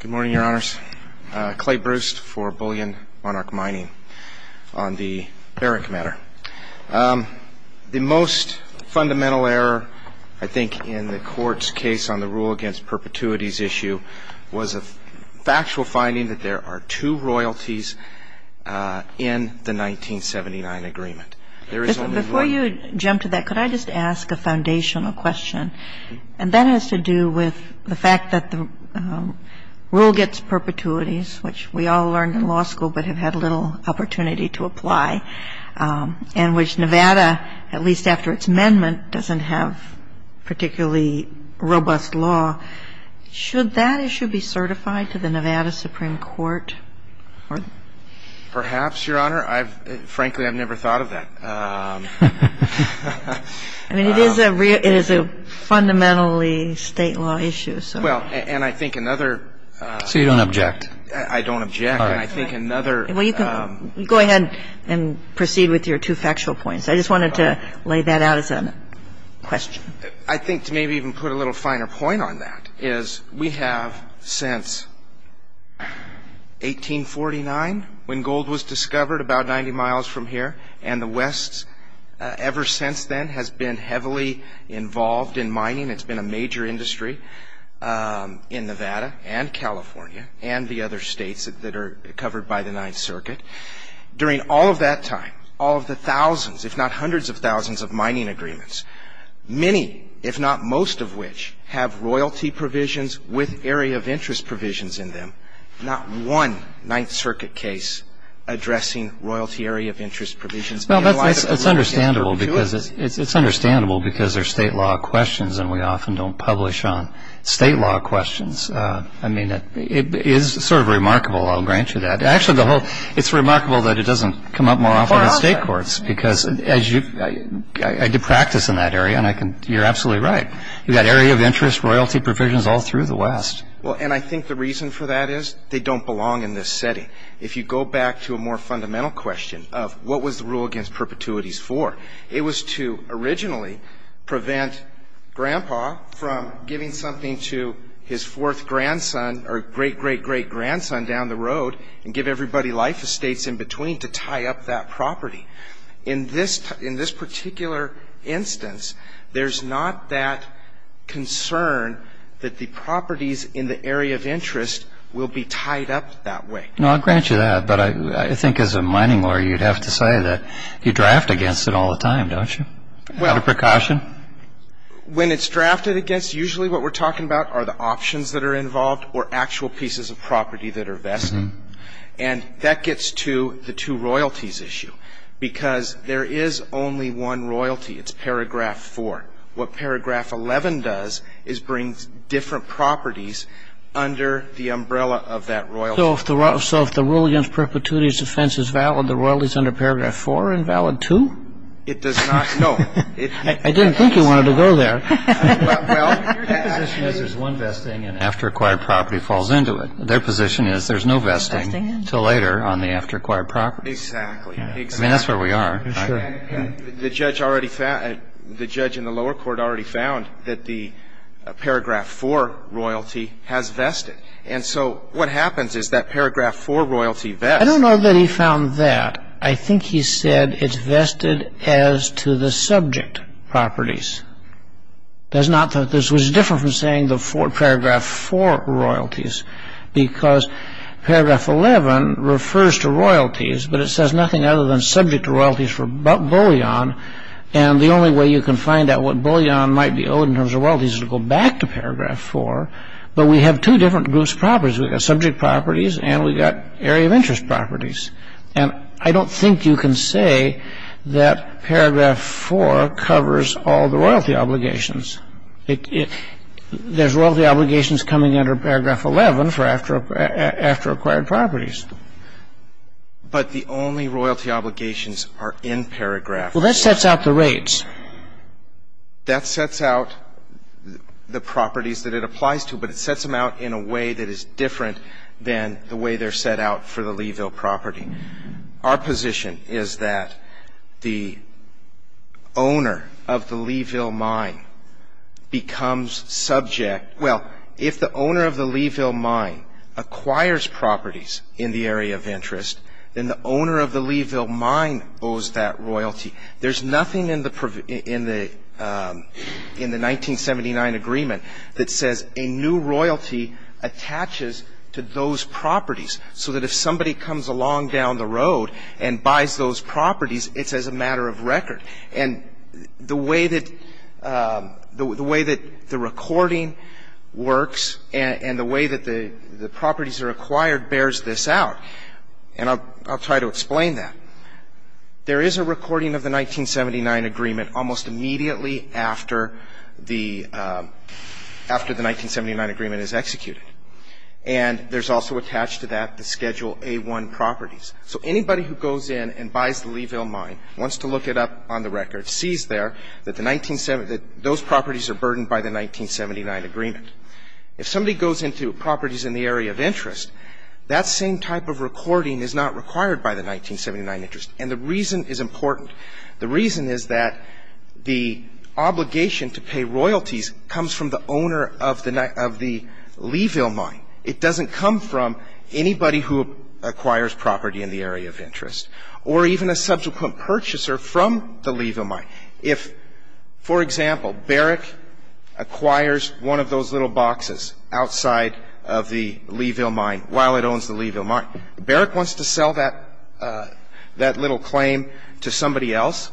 Good morning, Your Honors. Clay Bruce for Bullion Monarch Mining, on the Barrick matter. The most fundamental error, I think, in the Court's case on the rule against perpetuities issue was a factual finding that there are two royalties in the 1979 agreement. There is only one. Before you jump to that, could I just ask a foundational question? And that has to do with the fact that the rule against perpetuities, which we all learned in law school but have had little opportunity to apply, and which Nevada, at least after its amendment, doesn't have particularly robust law, should that issue be certified to the Nevada Supreme Court? Perhaps, Your Honor. Frankly, I've never thought of that. I mean, it is a fundamentally state law issue, so. Well, and I think another. So you don't object? I don't object. All right. And I think another. Well, you can go ahead and proceed with your two factual points. I just wanted to lay that out as a question. I think to maybe even put a little finer point on that is we have, since 1849, when gold was discovered about 90 miles from here, and the West ever since then has been heavily involved in mining. It's been a major industry in Nevada and California and the other states that are covered by the Ninth Circuit. During all of that time, all of the thousands, if not hundreds of thousands, of mining agreements, many, if not most of which, have royalty provisions with area of interest provisions in them. Not one Ninth Circuit case addressing royalty area of interest provisions. Well, that's understandable because it's understandable because they're state law questions and we often don't publish on state law questions. I mean, it is sort of remarkable, I'll grant you that. Actually, the whole — it's remarkable that it doesn't come up more often in state courts because as you — I did practice in that area and I can — you're And I think the reason for that is they don't belong in this setting. If you go back to a more fundamental question of what was the rule against perpetuities for, it was to originally prevent Grandpa from giving something to his fourth grandson or great-great-great-grandson down the road and give everybody life estates in between to tie up that property. In this particular instance, there's not that concern that the properties in the area of interest will be tied up that way. No, I'll grant you that. But I think as a mining lawyer, you'd have to say that you draft against it all the time, don't you? Out of precaution? Well, when it's drafted against, usually what we're talking about are the options that are involved or actual pieces of property that are vested. And that gets to the two Because there is only one royalty. It's paragraph four. What paragraph 11 does is bring different properties under the umbrella of that royalty. So if the rule against perpetuities defense is valid, the royalties under paragraph four are invalid too? It does not — no. I didn't think you wanted to go there. Well, their position is there's one vesting and after acquired property falls into it. Their position is there's no vesting until later on the after acquired property. Exactly. I mean, that's where we are. And the judge already found — the judge in the lower court already found that the paragraph four royalty has vested. And so what happens is that paragraph four royalty vests — I don't know that he found that. I think he said it's vested as to the subject properties. That's not — this was different from saying the paragraph four royalties, because paragraph 11 refers to royalties, but it says nothing other than subject royalties for bullion. And the only way you can find out what bullion might be owed in terms of royalties is to go back to paragraph four. But we have two different groups of properties. We've got subject properties and we've got area of interest properties. And I don't think you can say that paragraph four covers all the royalty obligations. There's royalty obligations coming under paragraph 11 for after acquired properties. But the only royalty obligations are in paragraph four. Well, that sets out the rates. That sets out the properties that it applies to, but it sets them out in a way that is different than the way they're set out for the Leeville property. Our position is that the owner of the Leeville mine becomes subject — well, if the owner of the Leeville mine acquires properties in the area of interest, then the owner of the Leeville mine owes that royalty. There's nothing in the 1979 agreement that says a new royalty attaches to those properties so that if somebody comes along down the road and buys those properties, it's as a matter of record. And the way that the recording works and the way that the properties are acquired bears this out. And I'll try to explain that. There is a recording of the 1979 agreement almost immediately after the 1979 agreement is executed. And there's also attached to that the Schedule A-1 properties. So anybody who goes in and buys the Leeville mine, wants to look it up on the record, sees there that those properties are burdened by the 1979 agreement. If somebody goes into properties in the area of interest, that same type of recording is not required by the 1979 interest. And the reason is important. The reason is that the Leeville mine, it doesn't come from anybody who acquires property in the area of interest or even a subsequent purchaser from the Leeville mine. If, for example, Barrick acquires one of those little boxes outside of the Leeville mine while it owns the Leeville mine, Barrick wants to sell that little claim to somebody else,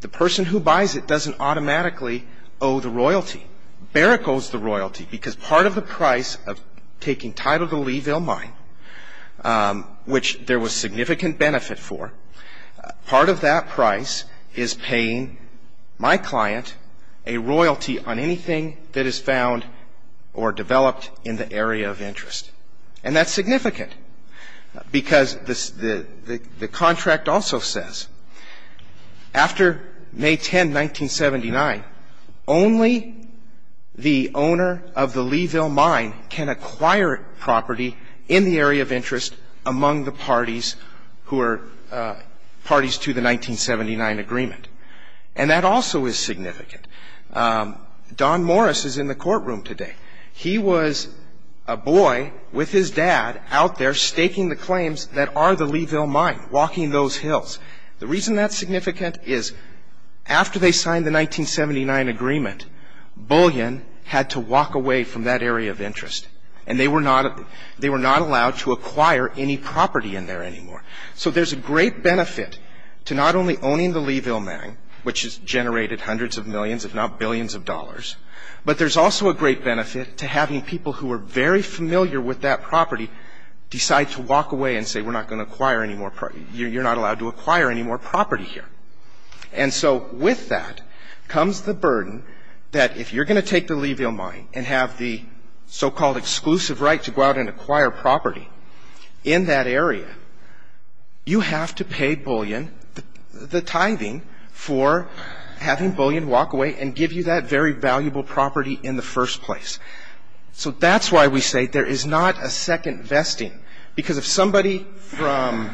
the person who buys it doesn't automatically owe the royalty. Barrick owes the royalty because part of the price of taking title of the Leeville mine, which there was significant benefit for, part of that price is paying my client a royalty on anything that is found or developed in the area of interest. And that's significant, because the contract also says, after May 10, 1979, only the owner of the Leeville mine can acquire property in the area of interest among the parties who are parties to the 1979 agreement. And that also is significant. Don Morris is in the courtroom today. He was a boy with his dad out there staking the claims that are the Leeville mine, walking those hills. The reason that's significant is, after they signed the 1979 agreement, both of them signed the 1979 agreement. Bullion had to walk away from that area of interest. And they were not allowed to acquire any property in there anymore. So there's a great benefit to not only owning the Leeville mine, which has generated hundreds of millions, if not billions of dollars, but there's also a great benefit to having people who are very familiar with that property decide to walk away and say, we're not going to acquire any more property here. You're not allowed to acquire any more property here. And so with that comes the burden that if you're going to take the Leeville mine and have the so-called exclusive right to go out and acquire property in that area, you have to pay Bullion the tithing for having Bullion walk away and give you that very valuable property in the first place. So that's why we say there is not a second vesting, because if somebody from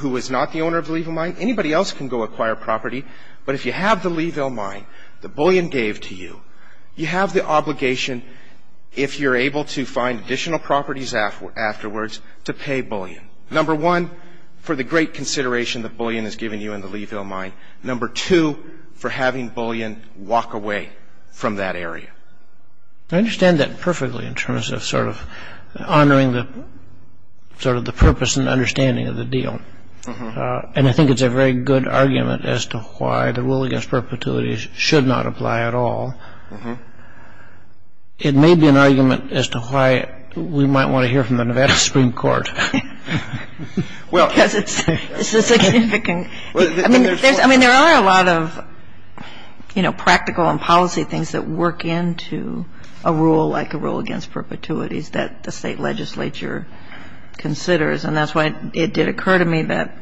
who is not the owner of the Leeville mine, anybody else can go acquire property. But if you have the Leeville mine that Bullion gave to you, you have the obligation, if you're able to find additional properties afterwards, to pay Bullion. Number one, for the great consideration that Bullion has given you in the Leeville mine. Number two, for having Bullion walk away from that area. I understand that perfectly in terms of sort of honoring the purpose and the purpose of the law. I mean, I don't think there's a very good argument as to why the rule against perpetuities should not apply at all. It may be an argument as to why we might want to hear from the Nevada Supreme Court. Because it's significant. I mean, there are a lot of, you know, practical and policy things that work into a rule like a rule against perpetuities that the state legislature considers. And that's why it did occur to me that...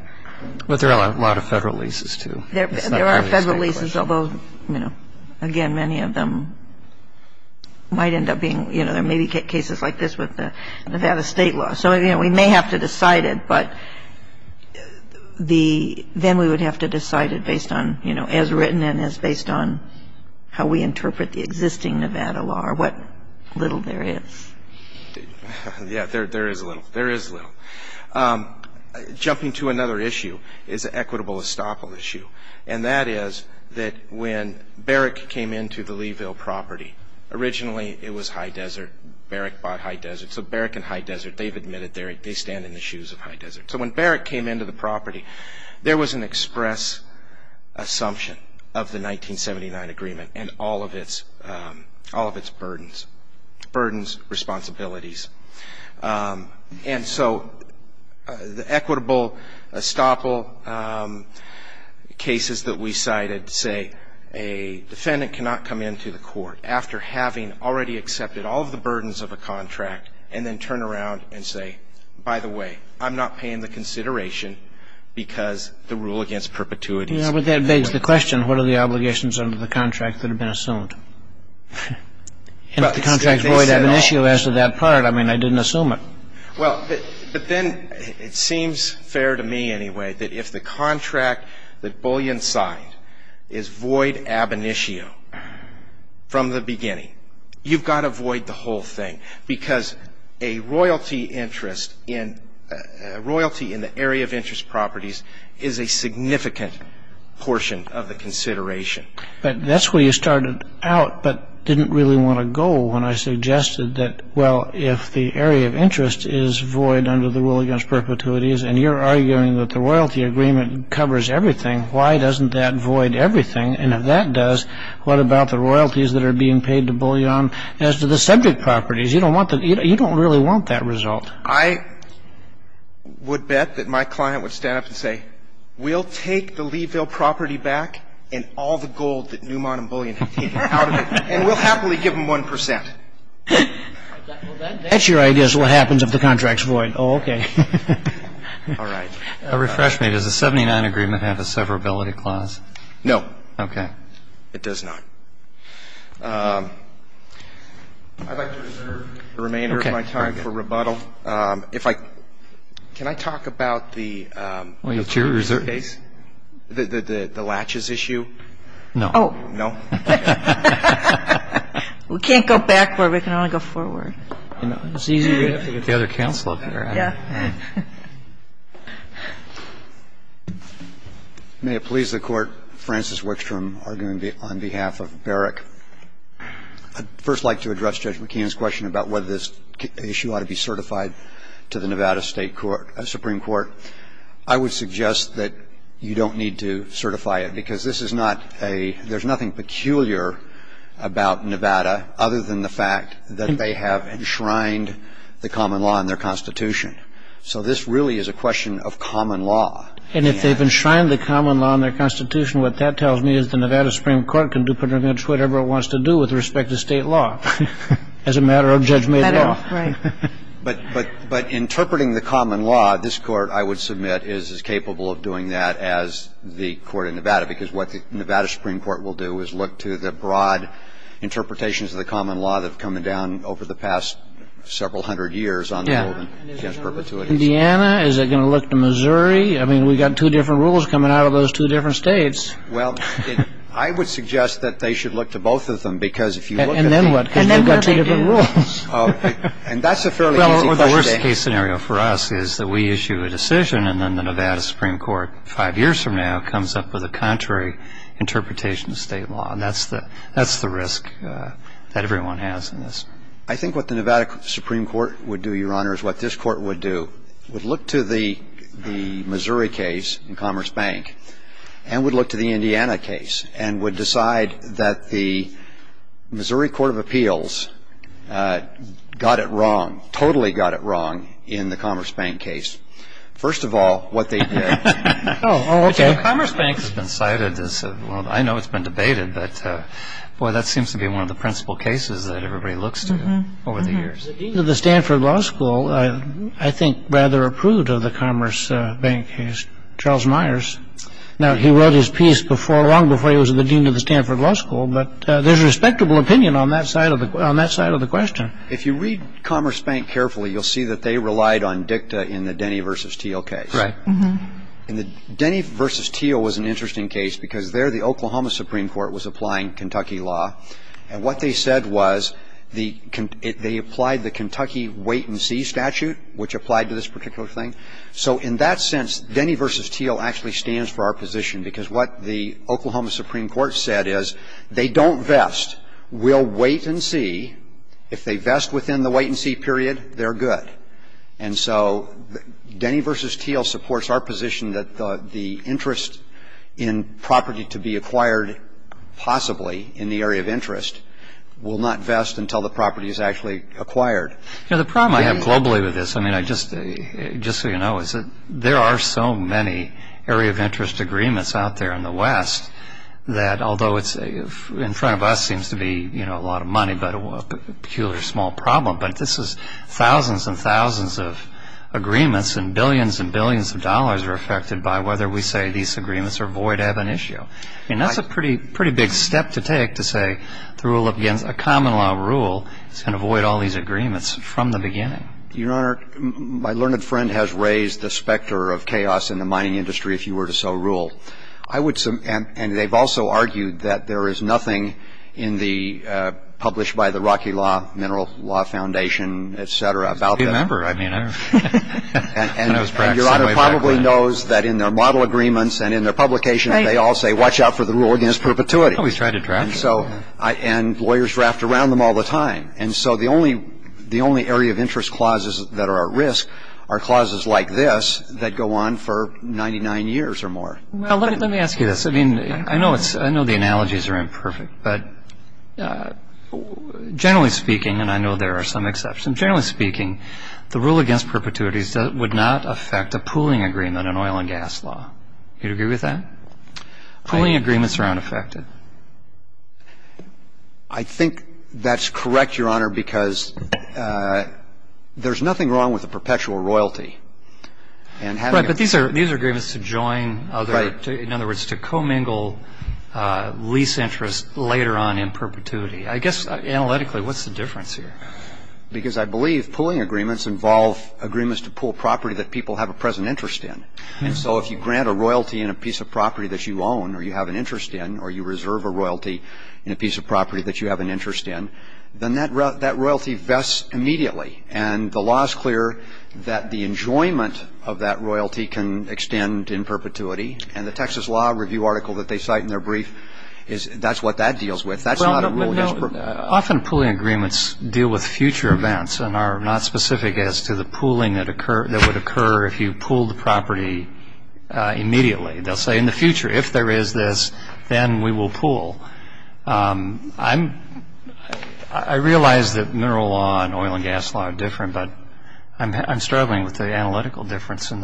But there are a lot of federal leases, too. There are federal leases, although, you know, again, many of them might end up being, you know, there may be cases like this with the Nevada state law. So, you know, we may have to decide it, but then we would have to decide it based on, you know, as written and as based on how we interpret the existing Nevada law or what little there is. Yeah. There is little. There is little. Jumping to another issue is an equitable estoppel issue. And that is that when Barrick came into the Leeville property, originally it was high desert. Barrick bought high desert. So Barrick and high desert, they've admitted they stand in the shoes of high desert. They've admitted they stand in the shoes of the 1979 agreement and all of its burdens, responsibilities. And so the equitable estoppel cases that we cited say a defendant cannot come into the court after having already accepted all of the burdens of a contract and then turn around and say, by the way, I'm not paying the consideration because the rule against perpetuities. Yeah, but that begs the question, what are the obligations under the contract that have been assumed? And if the contract is void ab initio as to that part, I mean, I didn't assume it. Well, but then it seems fair to me anyway that if the contract that Bullion signed is void from the beginning, you've got to void the whole thing. Because a royalty interest in the area of interest properties is a significant portion of the consideration. But that's where you started out but didn't really want to go when I suggested that, well, if the area of interest is void under the rule against perpetuities, and you're arguing that the royalty agreement covers everything, why doesn't that void everything? And if that does, what about the royalties that are being paid to Bullion as to the subject properties? You don't really want that result. I would bet that my client would stand up and say, we'll take the Leeville property back and all the gold that Newmont and Bullion have taken out of it, and we'll happily give them 1 percent. That's your idea as to what happens if the contract's void. Oh, okay. All right. Refresh me. Does the 79 agreement have a severability clause? No. Okay. It does not. I'd like to reserve the remainder of my time for rebuttal. Okay. If I can I talk about the case, the latches issue? No. Oh. No? We can't go back where we can only go forward. It's easy to get the other counsel up here. Yeah. May it please the Court, Francis Wickstrom arguing on behalf of Berrick. I'd first like to address Judge McKeon's question about whether this issue ought to be certified to the Nevada State Supreme Court. I would suggest that you don't need to certify it, because this is not a – there's nothing peculiar about Nevada other than the fact that they have enshrined the common law in their Constitution. So this really is a question of common law. And if they've enshrined the common law in their Constitution, what that tells me is the Nevada Supreme Court can do pretty much whatever it wants to do with respect to State law as a matter of judgment. Right. But interpreting the common law, this Court, I would submit, is as capable of doing that as the Court of Nevada, because what the Nevada Supreme Court will do is look to the broad interpretations of the common law that have come down over the past several hundred years on the road against perpetuities. Yeah. Indiana? Is it going to look to Missouri? I mean, we've got two different rules coming out of those two different states. Well, I would suggest that they should look to both of them, because if you look at the – And then what? Because you've got two different rules. And that's a fairly easy question. Well, the worst case scenario for us is that we issue a decision, and then the Nevada Supreme Court, five years from now, comes up with a contrary interpretation of State law. And that's the risk that everyone has in this. I think what the Nevada Supreme Court would do, Your Honor, is what this Court would do, would look to the Missouri case in Commerce Bank, and would look to the Indiana case, and would decide that the Missouri Court of Appeals got it wrong, totally got it wrong, in the Commerce Bank case. First of all, what they did – Oh, okay. Commerce Bank has been cited as – well, I know it's been debated, but, boy, that The dean of the Stanford Law School, I think, rather approved of the Commerce Bank case, Charles Myers. Now, he wrote his piece long before he was the dean of the Stanford Law School, but there's respectable opinion on that side of the question. If you read Commerce Bank carefully, you'll see that they relied on dicta in the Denny v. Teal case. Right. And the Denny v. Teal was an interesting case, because there the Oklahoma Supreme Court was applying Kentucky law. And what they said was they applied the Kentucky wait-and-see statute, which applied to this particular thing. So in that sense, Denny v. Teal actually stands for our position, because what the Oklahoma Supreme Court said is, they don't vest. We'll wait and see. If they vest within the wait-and-see period, they're good. And so Denny v. Teal supports our position that the interest in property to be acquired possibly in the area of interest will not vest until the property is actually acquired. You know, the problem I have globally with this, I mean, just so you know, is that there are so many area of interest agreements out there in the West that, although in front of us seems to be, you know, a lot of money, but a peculiar small problem, but this is thousands and thousands of agreements, and billions and billions of dollars are affected by whether we say these agreements are void, have an issue. I mean, that's a pretty big step to take to say, to rule up against a common law rule that's going to void all these agreements from the beginning. Your Honor, my learned friend has raised the specter of chaos in the mining industry, if you were to so rule. And they've also argued that there is nothing in the, published by the Rocky Law, Mineral Law Foundation, et cetera, about that. I remember. I mean, I remember. And Your Honor probably knows that in their model agreements and in their publication, they all say, watch out for the rule against perpetuity. Oh, he's tried to draft it. And so, and lawyers draft around them all the time. And so the only area of interest clauses that are at risk are clauses like this that go on for 99 years or more. Well, let me ask you this. I mean, I know the analogies are imperfect, but generally speaking, and I know there are some exceptions, generally speaking, the rule against perpetuity would not affect a pooling agreement in oil and gas law. You'd agree with that? Pooling agreements are unaffected. I think that's correct, Your Honor, because there's nothing wrong with a perpetual royalty. Right. But these are agreements to join other, in other words, to commingle lease interests later on in perpetuity. I guess analytically, what's the difference here? Because I believe pooling agreements involve agreements to pool property that people have a present interest in. And so if you grant a royalty in a piece of property that you own or you have an interest in or you reserve a royalty in a piece of property that you have an interest in, then that royalty vests immediately. And the law is clear that the enjoyment of that royalty can extend in perpetuity. And the Texas Law Review article that they cite in their brief is that's what that deals with. That's not a rule against perpetuity. Well, no. Often pooling agreements deal with future events and are not specific as to the pooling that would occur if you pooled the property immediately. They'll say in the future, if there is this, then we will pool. I realize that mineral law and oil and gas law are different, but I'm struggling with the analytical difference in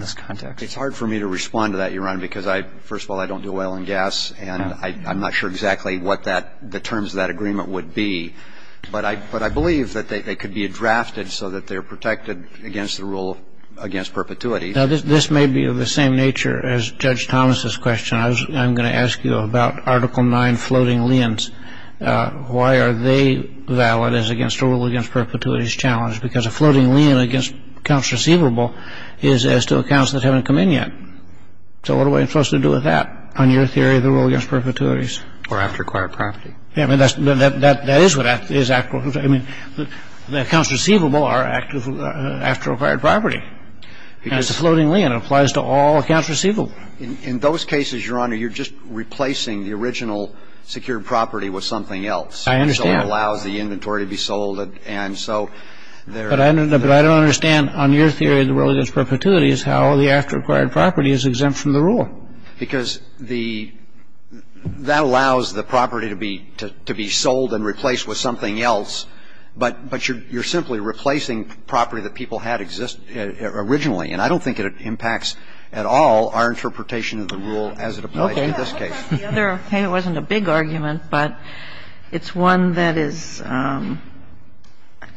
this context. It's hard for me to respond to that, Your Honor, because first of all, I don't do oil and gas, and I'm not sure exactly what the terms of that agreement would be. But I believe that they could be drafted so that they're protected against the rule against perpetuity. Now, this may be of the same nature as Judge Thomas's question. I'm going to ask you about Article 9, floating liens. Why are they valid as against a rule against perpetuity challenge? Because a floating lien against accounts receivable is as to accounts that haven't come in yet. So what am I supposed to do with that on your theory of the rule against perpetuities? Or after acquired property. I mean, that is what that is. I mean, the accounts receivable are after acquired property. And it's a floating lien. It applies to all accounts receivable. In those cases, Your Honor, you're just replacing the original secured property with something else. I understand. So it allows the inventory to be sold. And so they're But I don't understand on your theory of the rule against perpetuities how the after acquired property is exempt from the rule. Because the that allows the property to be to be sold and replaced with something else. But but you're you're simply replacing property that people had exist originally. And I don't think it impacts at all our interpretation of the rule as it applies in this case. Okay. It wasn't a big argument, but it's one that is I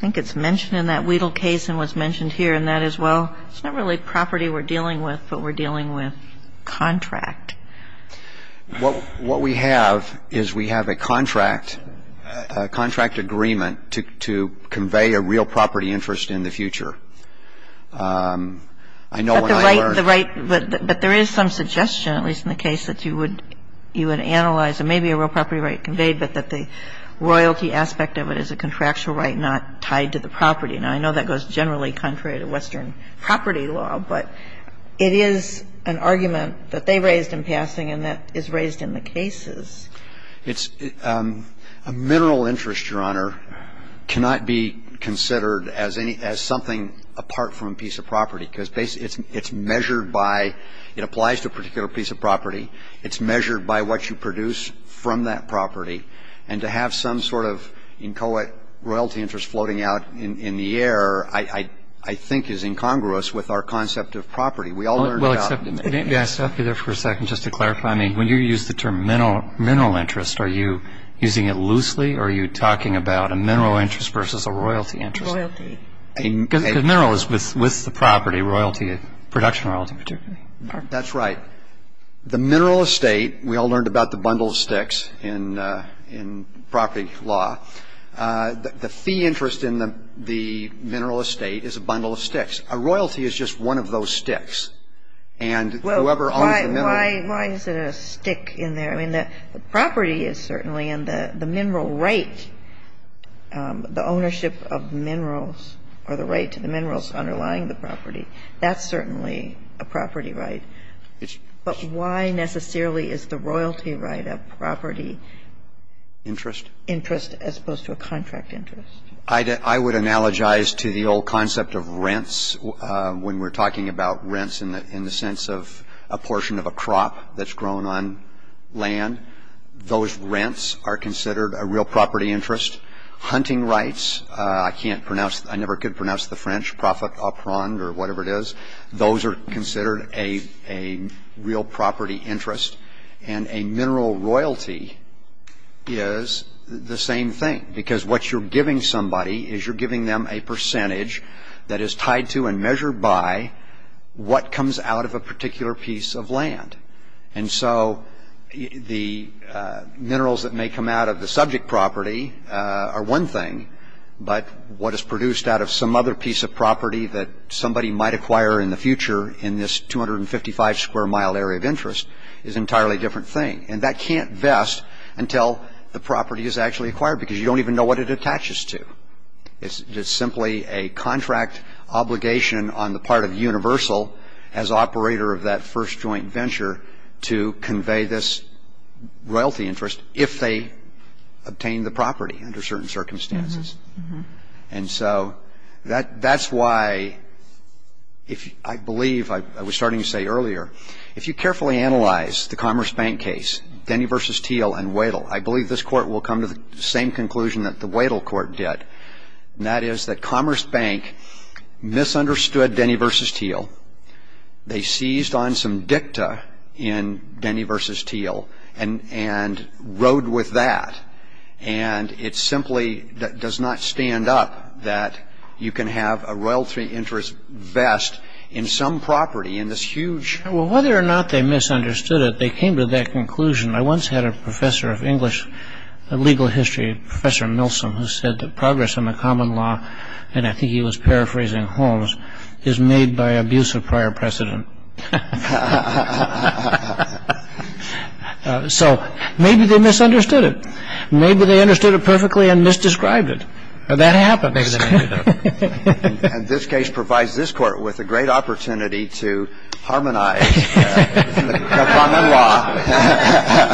think it's mentioned in that Wedel case and was mentioned here. And that is, well, it's not really property we're dealing with, but we're dealing with contract. What what we have is we have a contract, a contract agreement to to convey a real property interest in the future. I know when I learned the right. But there is some suggestion, at least in the case that you would you would analyze and maybe a real property right conveyed, but that the royalty aspect of it is a contractual right not tied to the property. Now, I know that goes generally contrary to Western property law, but it is an argument that they raised in passing and that is raised in the cases. It's a mineral interest, Your Honor, cannot be considered as any as something apart from a piece of property because basically it's it's measured by it applies to a particular piece of property. It's measured by what you produce from that property. And to have some sort of inchoate royalty interest floating out in the air, I think, is incongruous with our concept of property. We all accept it. Yes. I'll be there for a second just to clarify. I mean, when you use the term mineral mineral interest, are you using it loosely or are you talking about a mineral interest versus a royalty interest? A mineral is with with the property royalty, production royalty. That's right. The mineral estate. We all learned about the bundle of sticks in property law. The fee interest in the mineral estate is a bundle of sticks. A royalty is just one of those sticks. And whoever owns the mineral. Why is it a stick in there? I mean, the property is certainly in the mineral right. The ownership of minerals or the right to the minerals underlying the property, that's certainly a property right. But why necessarily is the royalty right a property interest? Interest as opposed to a contract interest. I would analogize to the old concept of rents. When we're talking about rents in the sense of a portion of a crop that's grown on land, those rents are considered a real property interest. Hunting rights, I can't pronounce. I never could pronounce the French. Or whatever it is. Those are considered a real property interest. And a mineral royalty is the same thing. Because what you're giving somebody is you're giving them a percentage that is tied to and measured by what comes out of a particular piece of land. And so the minerals that may come out of the subject property are one thing. But what is produced out of some other piece of property that somebody might acquire in the future in this 255 square mile area of interest is an entirely different thing. And that can't vest until the property is actually acquired because you don't even know what it attaches to. It's simply a contract obligation on the part of Universal as operator of that first joint venture to convey this royalty interest if they obtain the property under certain circumstances. And so that's why I believe I was starting to say earlier, if you carefully analyze the Commerce Bank case, Denny v. Thiel and Wadle, I believe this Court will come to the same conclusion that the Wadle Court did. And that is that Commerce Bank misunderstood Denny v. Thiel. They seized on some dicta in Denny v. Thiel and rode with that. And it simply does not stand up that you can have a royalty interest vest in some property in this huge... Well, whether or not they misunderstood it, they came to that conclusion. I once had a professor of English legal history, Professor Milsom, who said that progress in the common law, and I think he was paraphrasing Holmes, is made by abuse of prior precedent. So maybe they misunderstood it. Maybe they understood it perfectly and misdescribed it. That happens. And this case provides this Court with a great opportunity to harmonize the common law.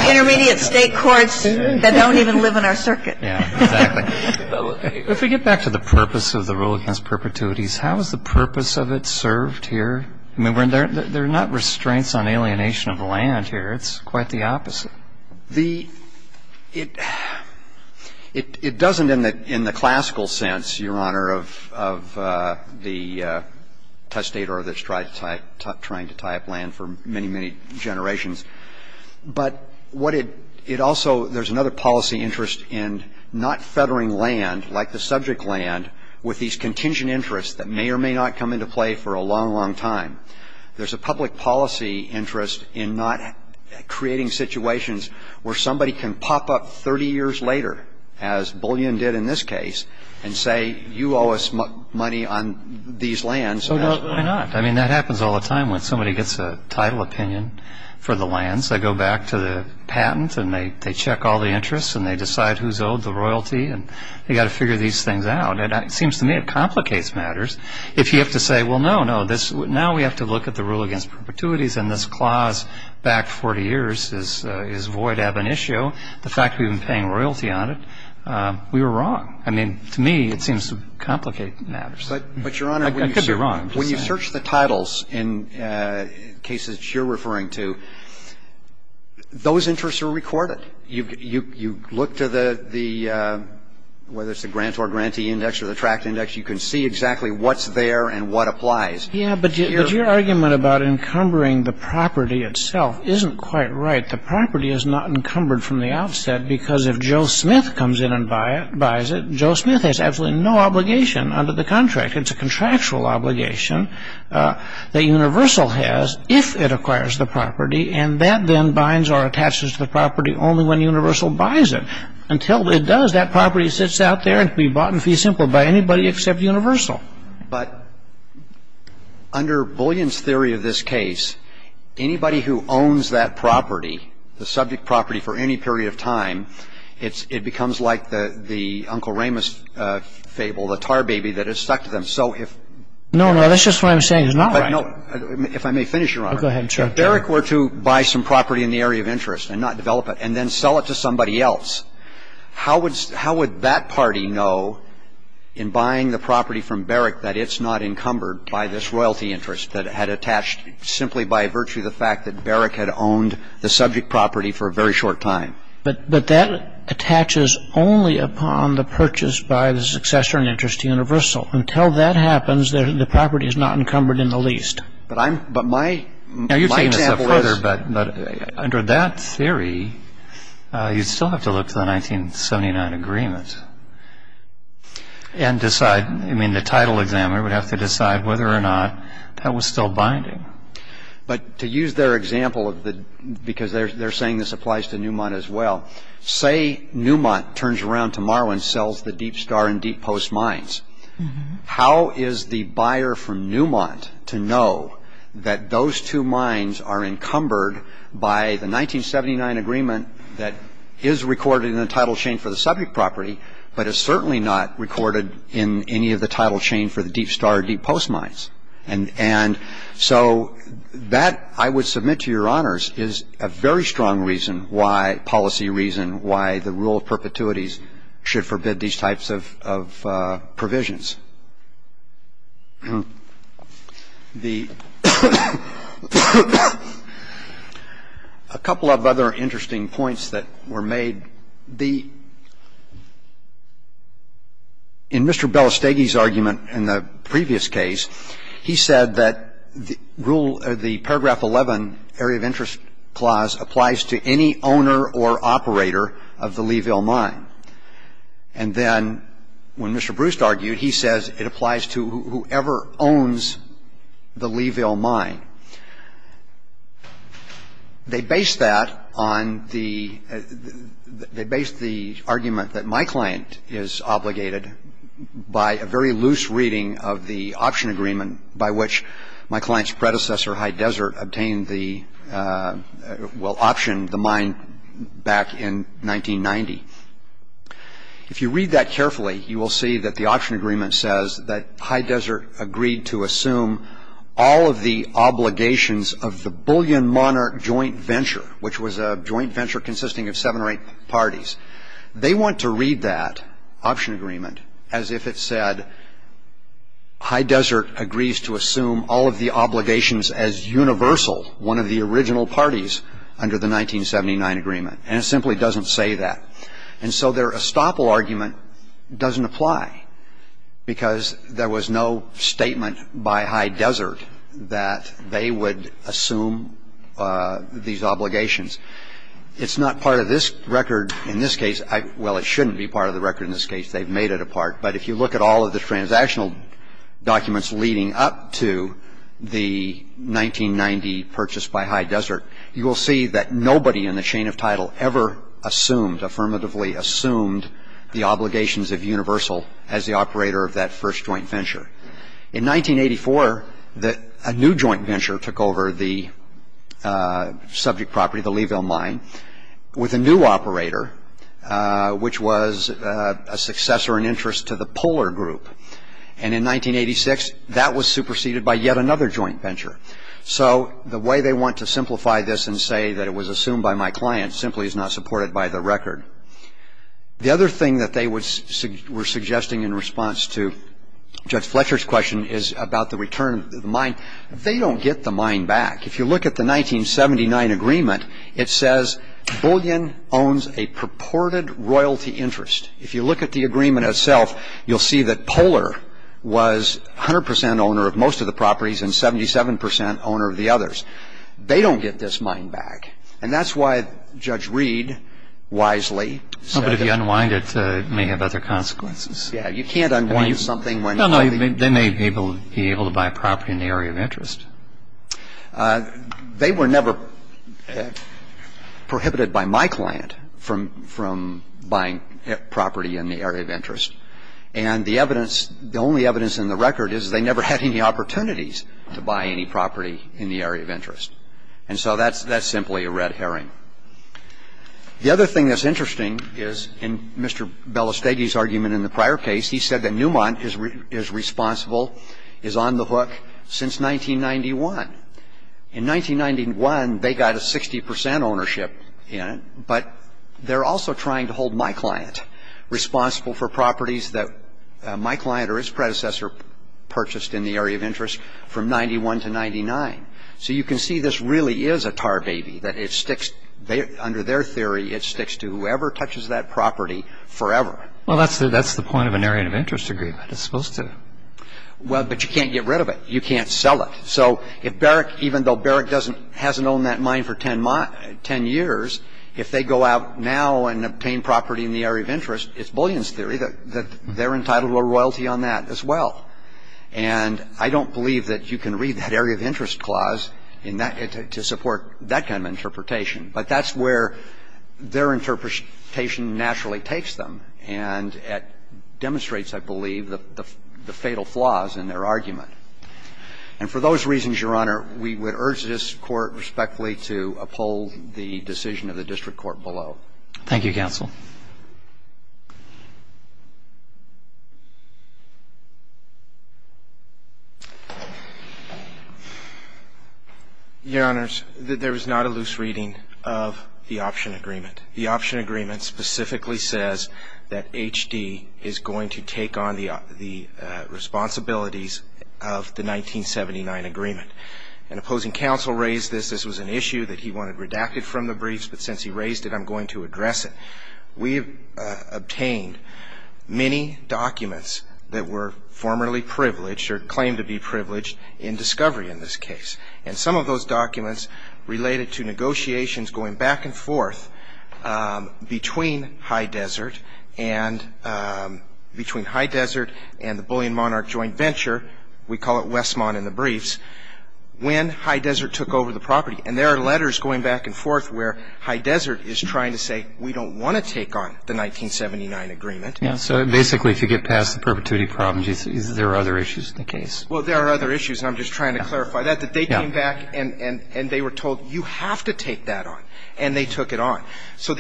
Intermediate state courts that don't even live in our circuit. Yeah, exactly. If we get back to the purpose of the rule against perpetuities, how is the purpose of it served here? I mean, there are not restraints on alienation of land here. It's quite the opposite. It doesn't in the classical sense, Your Honor, of the testator that's trying to tie up land for many, many generations. But what it also, there's another policy interest in not feathering land, like the subject land, with these contingent interests that may or may not come into play for a long, long time. There's a public policy interest in not creating situations where somebody can pop up 30 years later, as Bullion did in this case, and say, you owe us money on these lands. So why not? I mean, that happens all the time when somebody gets a title opinion for the lands. They go back to the patent, and they check all the interests, and they decide who's owed the royalty, and they've got to figure these things out. And it seems to me it complicates matters. If you have to say, well, no, no, now we have to look at the rule against perpetuities, and this clause back 40 years is void ab initio, the fact we've been paying royalty on it, we were wrong. I mean, to me, it seems to complicate matters. I could be wrong. When you search the titles in cases that you're referring to, those interests are recorded. You look to the ñ whether it's the grant or grantee index or the tract index, you can see exactly what's there and what applies. Yeah, but your argument about encumbering the property itself isn't quite right. The property is not encumbered from the outset because if Joe Smith comes in and buys it, Joe Smith has absolutely no obligation under the contract. It's a contractual obligation that Universal has if it acquires the property, and that then binds or attaches to the property only when Universal buys it. Until it does, that property sits out there and can be bought in fee simple by anybody except Universal. But under Bullion's theory of this case, anybody who owns that property, the subject property for any period of time, it becomes like the Uncle Raymond's fable, the tar baby that has stuck to them. So if ñ No, no. That's just what I'm saying. It's not right. If I may finish, Your Honor. Go ahead. If Barrick were to buy some property in the area of interest and not develop it and then sell it to somebody else, how would that party know in buying the property from Barrick that it's not encumbered by this royalty interest that it had attached simply by virtue of the fact that Barrick had owned the subject property for a very short time? But that attaches only upon the purchase by the successor in interest to Universal. Until that happens, the property is not encumbered in the least. But I'm ñ but my example is ñ Now, you're taking this up further, but under that theory, you'd still have to look to the 1979 agreement and decide. I mean, the title examiner would have to decide whether or not that was still binding. But to use their example of the ñ because they're saying this applies to Newmont as well. Say Newmont turns around tomorrow and sells the Deep Star and Deep Post mines. How is the buyer from Newmont to know that those two mines are encumbered by the 1979 agreement that is recorded in the title chain for the subject property but is certainly not recorded in any of the title chain for the Deep Star or Deep Post mines? And so that, I would submit to Your Honors, is a very strong reason why ñ policy reason why the rule of perpetuities should forbid these types of ñ of provisions. The ñ a couple of other interesting points that were made. The ñ in Mr. Belastegui's argument in the previous case, he said that the rule ñ the paragraph 11 area of interest clause applies to any owner or operator of the Leeville mine. And then when Mr. Bruce argued, he says it applies to whoever owns the Leeville mine. They base that on the ñ they base the argument that my client is obligated by a very loose reading of the option agreement by which my client's predecessor, High Desert, obtained the ñ well, optioned the mine back in 1990. If you read that carefully, you will see that the option agreement says that High Desert agreed to assume all of the obligations of the Bullion Monarch joint venture, which was a joint venture consisting of seven or eight parties. They want to read that option agreement as if it said, High Desert agrees to assume all of the obligations as universal, one of the original parties under the 1979 agreement. And it simply doesn't say that. And so their estoppel argument doesn't apply, because there was no statement by High Desert that they would assume these obligations. It's not part of this record in this case. Well, it shouldn't be part of the record in this case. They've made it apart. But if you look at all of the transactional documents leading up to the 1990 purchase by High Desert, you will see that nobody in the chain of title ever assumed, affirmatively assumed the obligations of universal as the operator of that first joint venture. In 1984, a new joint venture took over the subject property, the Leeville Mine, with a new operator, which was a successor in interest to the Polar Group. And in 1986, that was superseded by yet another joint venture. So the way they want to simplify this and say that it was assumed by my client simply is not supported by the record. The other thing that they were suggesting in response to Judge Fletcher's question is about the return of the mine. They don't get the mine back. If you look at the 1979 agreement, it says Bullion owns a purported royalty interest. If you look at the agreement itself, you'll see that Polar was 100 percent owner of most of the properties and 77 percent owner of the others. They don't get this mine back. And that's why Judge Reed wisely said that. But if you unwind it, it may have other consequences. Yeah. You can't unwind something when you have the- No, no. They may be able to buy property in the area of interest. They were never prohibited by my client from buying property in the area of interest. And the evidence, the only evidence in the record is they never had any opportunities to buy any property in the area of interest. And so that's simply a red herring. The other thing that's interesting is in Mr. Belastegui's argument in the prior case, he said that Newmont is responsible, is on the hook since 1991. In 1991, they got a 60 percent ownership in it, but they're also trying to hold my client responsible for properties that my client or his predecessor purchased in the area of interest from 91 to 99. So you can see this really is a tar baby, that it sticks under their theory, it sticks to whoever touches that property forever. Well, that's the point of an area of interest agreement. It's supposed to- Well, but you can't get rid of it. You can't sell it. So if Barrick, even though Barrick doesn't, hasn't owned that mine for 10 years, if they go out now and obtain property in the area of interest, it's Bullion's theory that they're entitled to a royalty on that as well. And I don't believe that you can read that area of interest clause in that, to support that kind of interpretation. But that's where their interpretation naturally takes them and demonstrates, I believe, the fatal flaws in their argument. And for those reasons, Your Honor, we would urge this Court respectfully to uphold the decision of the district court below. Thank you, counsel. Your Honors, there is not a loose reading of the option agreement. The option agreement specifically says that HD is going to take on the responsibilities of the 1979 agreement. An opposing counsel raised this. This was an issue that he wanted redacted from the briefs, but since he raised it, I'm going to address it. We've obtained many documents that were formerly privileged or claimed to be privileged in discovery in this case. And some of those documents related to negotiations going back and forth between High Desert and the Bullion-Monarch joint venture, we call it Westmont in the briefs, when High Desert took over the property. And there are letters going back and forth where High Desert is trying to say, we don't want to take on the 1979 agreement. So basically, if you get past the perpetuity problems, is there other issues in the case? Well, there are other issues. And I'm just trying to clarify that, that they came back and they were told, you have to take that on, and they took it on. So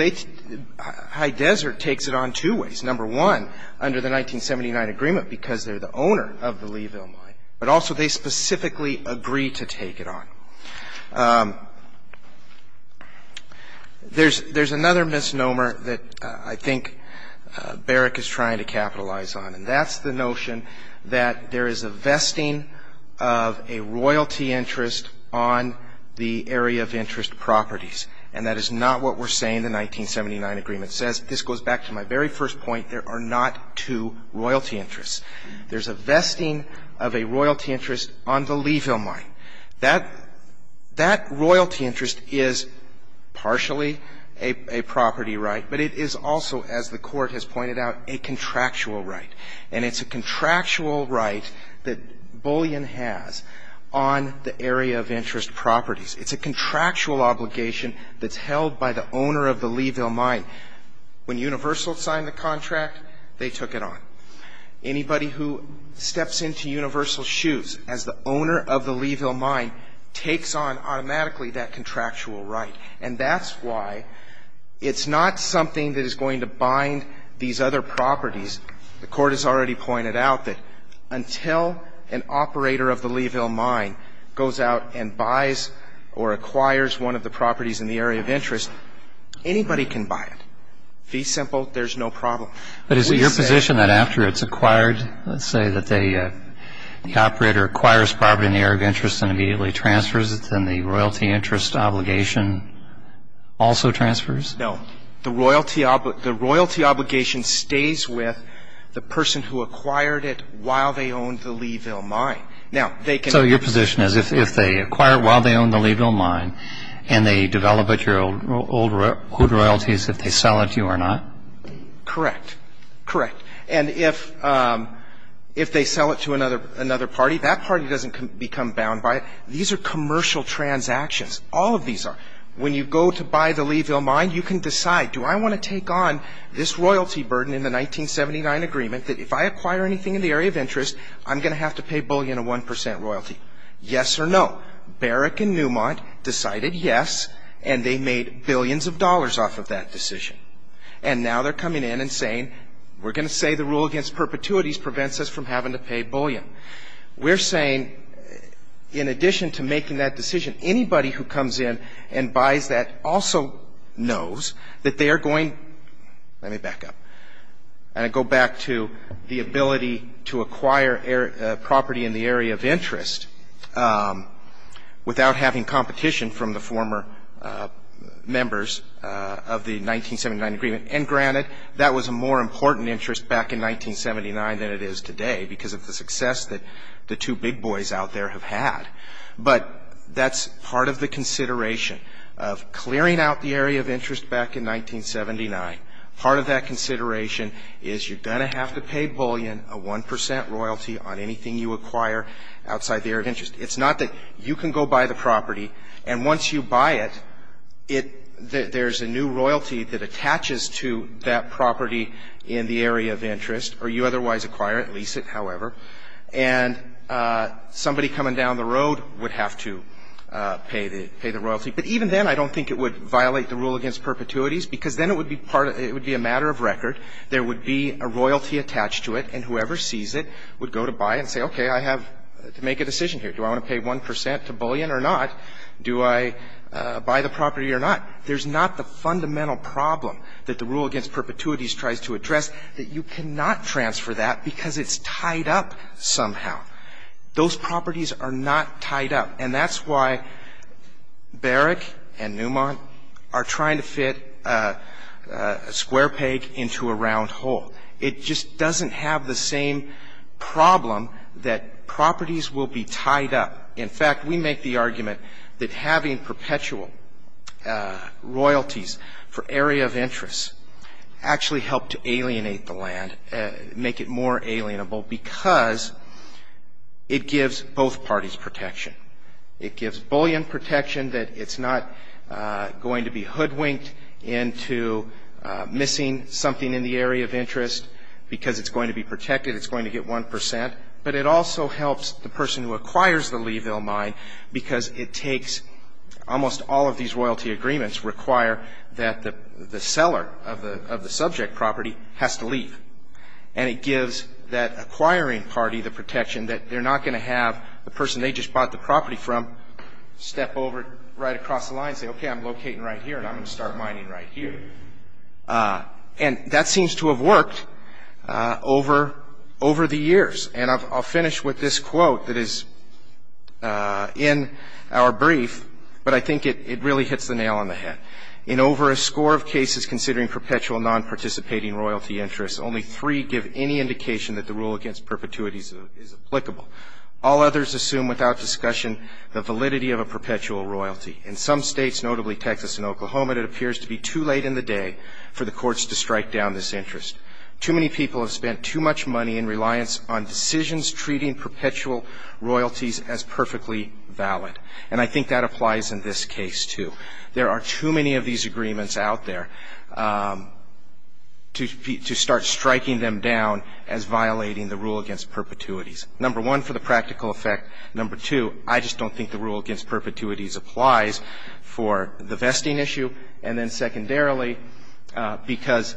High Desert takes it on two ways. Number one, under the 1979 agreement, because they're the owner of the Leeville mine, but also they specifically agree to take it on. There's another misnomer that I think Barrick is trying to capitalize on, and that's the notion that there is a vesting of a royalty interest on the area of interest properties. And that is not what we're saying the 1979 agreement says. This goes back to my very first point. There are not two royalty interests. There's a vesting of a royalty interest on the Leeville mine. That royalty interest is partially a property right, but it is also, as the court has pointed out, a contractual right. And it's a contractual right that Bullion has on the area of interest properties. It's a contractual obligation that's held by the owner of the Leeville mine. When Universal signed the contract, they took it on. Anybody who steps into Universal's shoes as the owner of the Leeville mine takes on automatically that contractual right. And that's why it's not something that is going to bind these other properties. The court has already pointed out that until an operator of the Leeville mine goes out and buys or acquires one of the properties in the area of interest, anybody can buy it. Fee simple, there's no problem. But is it your position that after it's acquired, let's say, that the operator acquires property in the area of interest and immediately transfers it, then the royalty interest obligation also transfers? No. The royalty obligation stays with the person who acquired it while they owned the Leeville mine. Now, they can have the same rights. So your position is if they acquire it while they own the Leeville mine and they develop it, your old royalties, if they sell it to you or not? Correct. Correct. And if they sell it to another party, that party doesn't become bound by it. These are commercial transactions. All of these are. When you go to buy the Leeville mine, you can decide, do I want to take on this royalty burden in the 1979 agreement that if I acquire anything in the area of interest, I'm going to have to pay Bullion a 1 percent royalty? Yes or no. Barrick and Newmont decided yes, and they made billions of dollars off of that decision. And now they're coming in and saying, we're going to say the rule against perpetuities prevents us from having to pay Bullion. We're saying in addition to making that decision, anybody who comes in and buys that also knows that they are going to go back to the ability to acquire property in the area of interest without having competition from the former members of the 1979 agreement. And granted, that was a more important interest back in 1979 than it is today because of the success that the two big boys out there have had. But that's part of the consideration of clearing out the area of interest back in 1979. Part of that consideration is you're going to have to pay Bullion a 1 percent royalty on anything you acquire outside the area of interest. It's not that you can go buy the property, and once you buy it, there's a new royalty that attaches to that property in the area of interest, or you otherwise acquire it, lease it, however, and somebody coming down the road would have to pay the royalty. But even then, I don't think it would violate the rule against perpetuities because then it would be a matter of record. There would be a royalty attached to it, and whoever sees it would go to buy it and say, okay, I have to make a decision here. Do I want to pay 1 percent to Bullion or not? Do I buy the property or not? There's not the fundamental problem that the rule against perpetuities tries to address that you cannot transfer that because it's tied up somehow. Those properties are not tied up, and that's why Barrick and Newmont are trying to fit a square peg into a round hole. It just doesn't have the same problem that properties will be tied up. In fact, we make the argument that having perpetual royalties for area of interest actually helped to alienate the land, make it more alienable because it gives both parties protection. It gives Bullion protection that it's not going to be hoodwinked into missing something in the area of interest because it's going to be protected, it's going to get 1 percent. But it also helps the person who acquires the Leeville mine because it takes almost all of these royalty agreements require that the seller of the subject property has to leave. And it gives that acquiring party the protection that they're not going to have the person they just bought the property from step over right across the line and say, okay, I'm locating right here and I'm going to start mining right here. And that seems to have worked over the years. And I'll finish with this quote that is in our brief, but I think it really hits the nail on the head. In over a score of cases considering perpetual nonparticipating royalty interests, only three give any indication that the rule against perpetuities is applicable. All others assume without discussion the validity of a perpetual royalty. In some states, notably Texas and Oklahoma, it appears to be too late in the day for the courts to strike down this interest. Too many people have spent too much money in reliance on decisions treating perpetual royalties as perfectly valid. And I think that applies in this case, too. There are too many of these agreements out there to start striking them down as violating the rule against perpetuities. Number one, for the practical effect. Number two, I just don't think the rule against perpetuities applies for the vesting issue. And then secondarily, because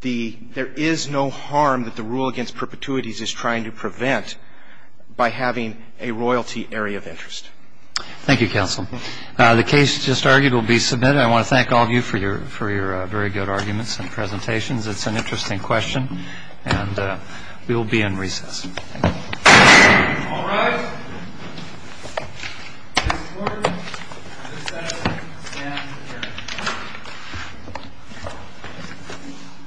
there is no harm that the rule against perpetuities is trying to prevent by having a royalty area of interest. Thank you, counsel. The case just argued will be submitted. I want to thank all of you for your very good arguments and presentations. It's an interesting question. And we will be in recess. All rise.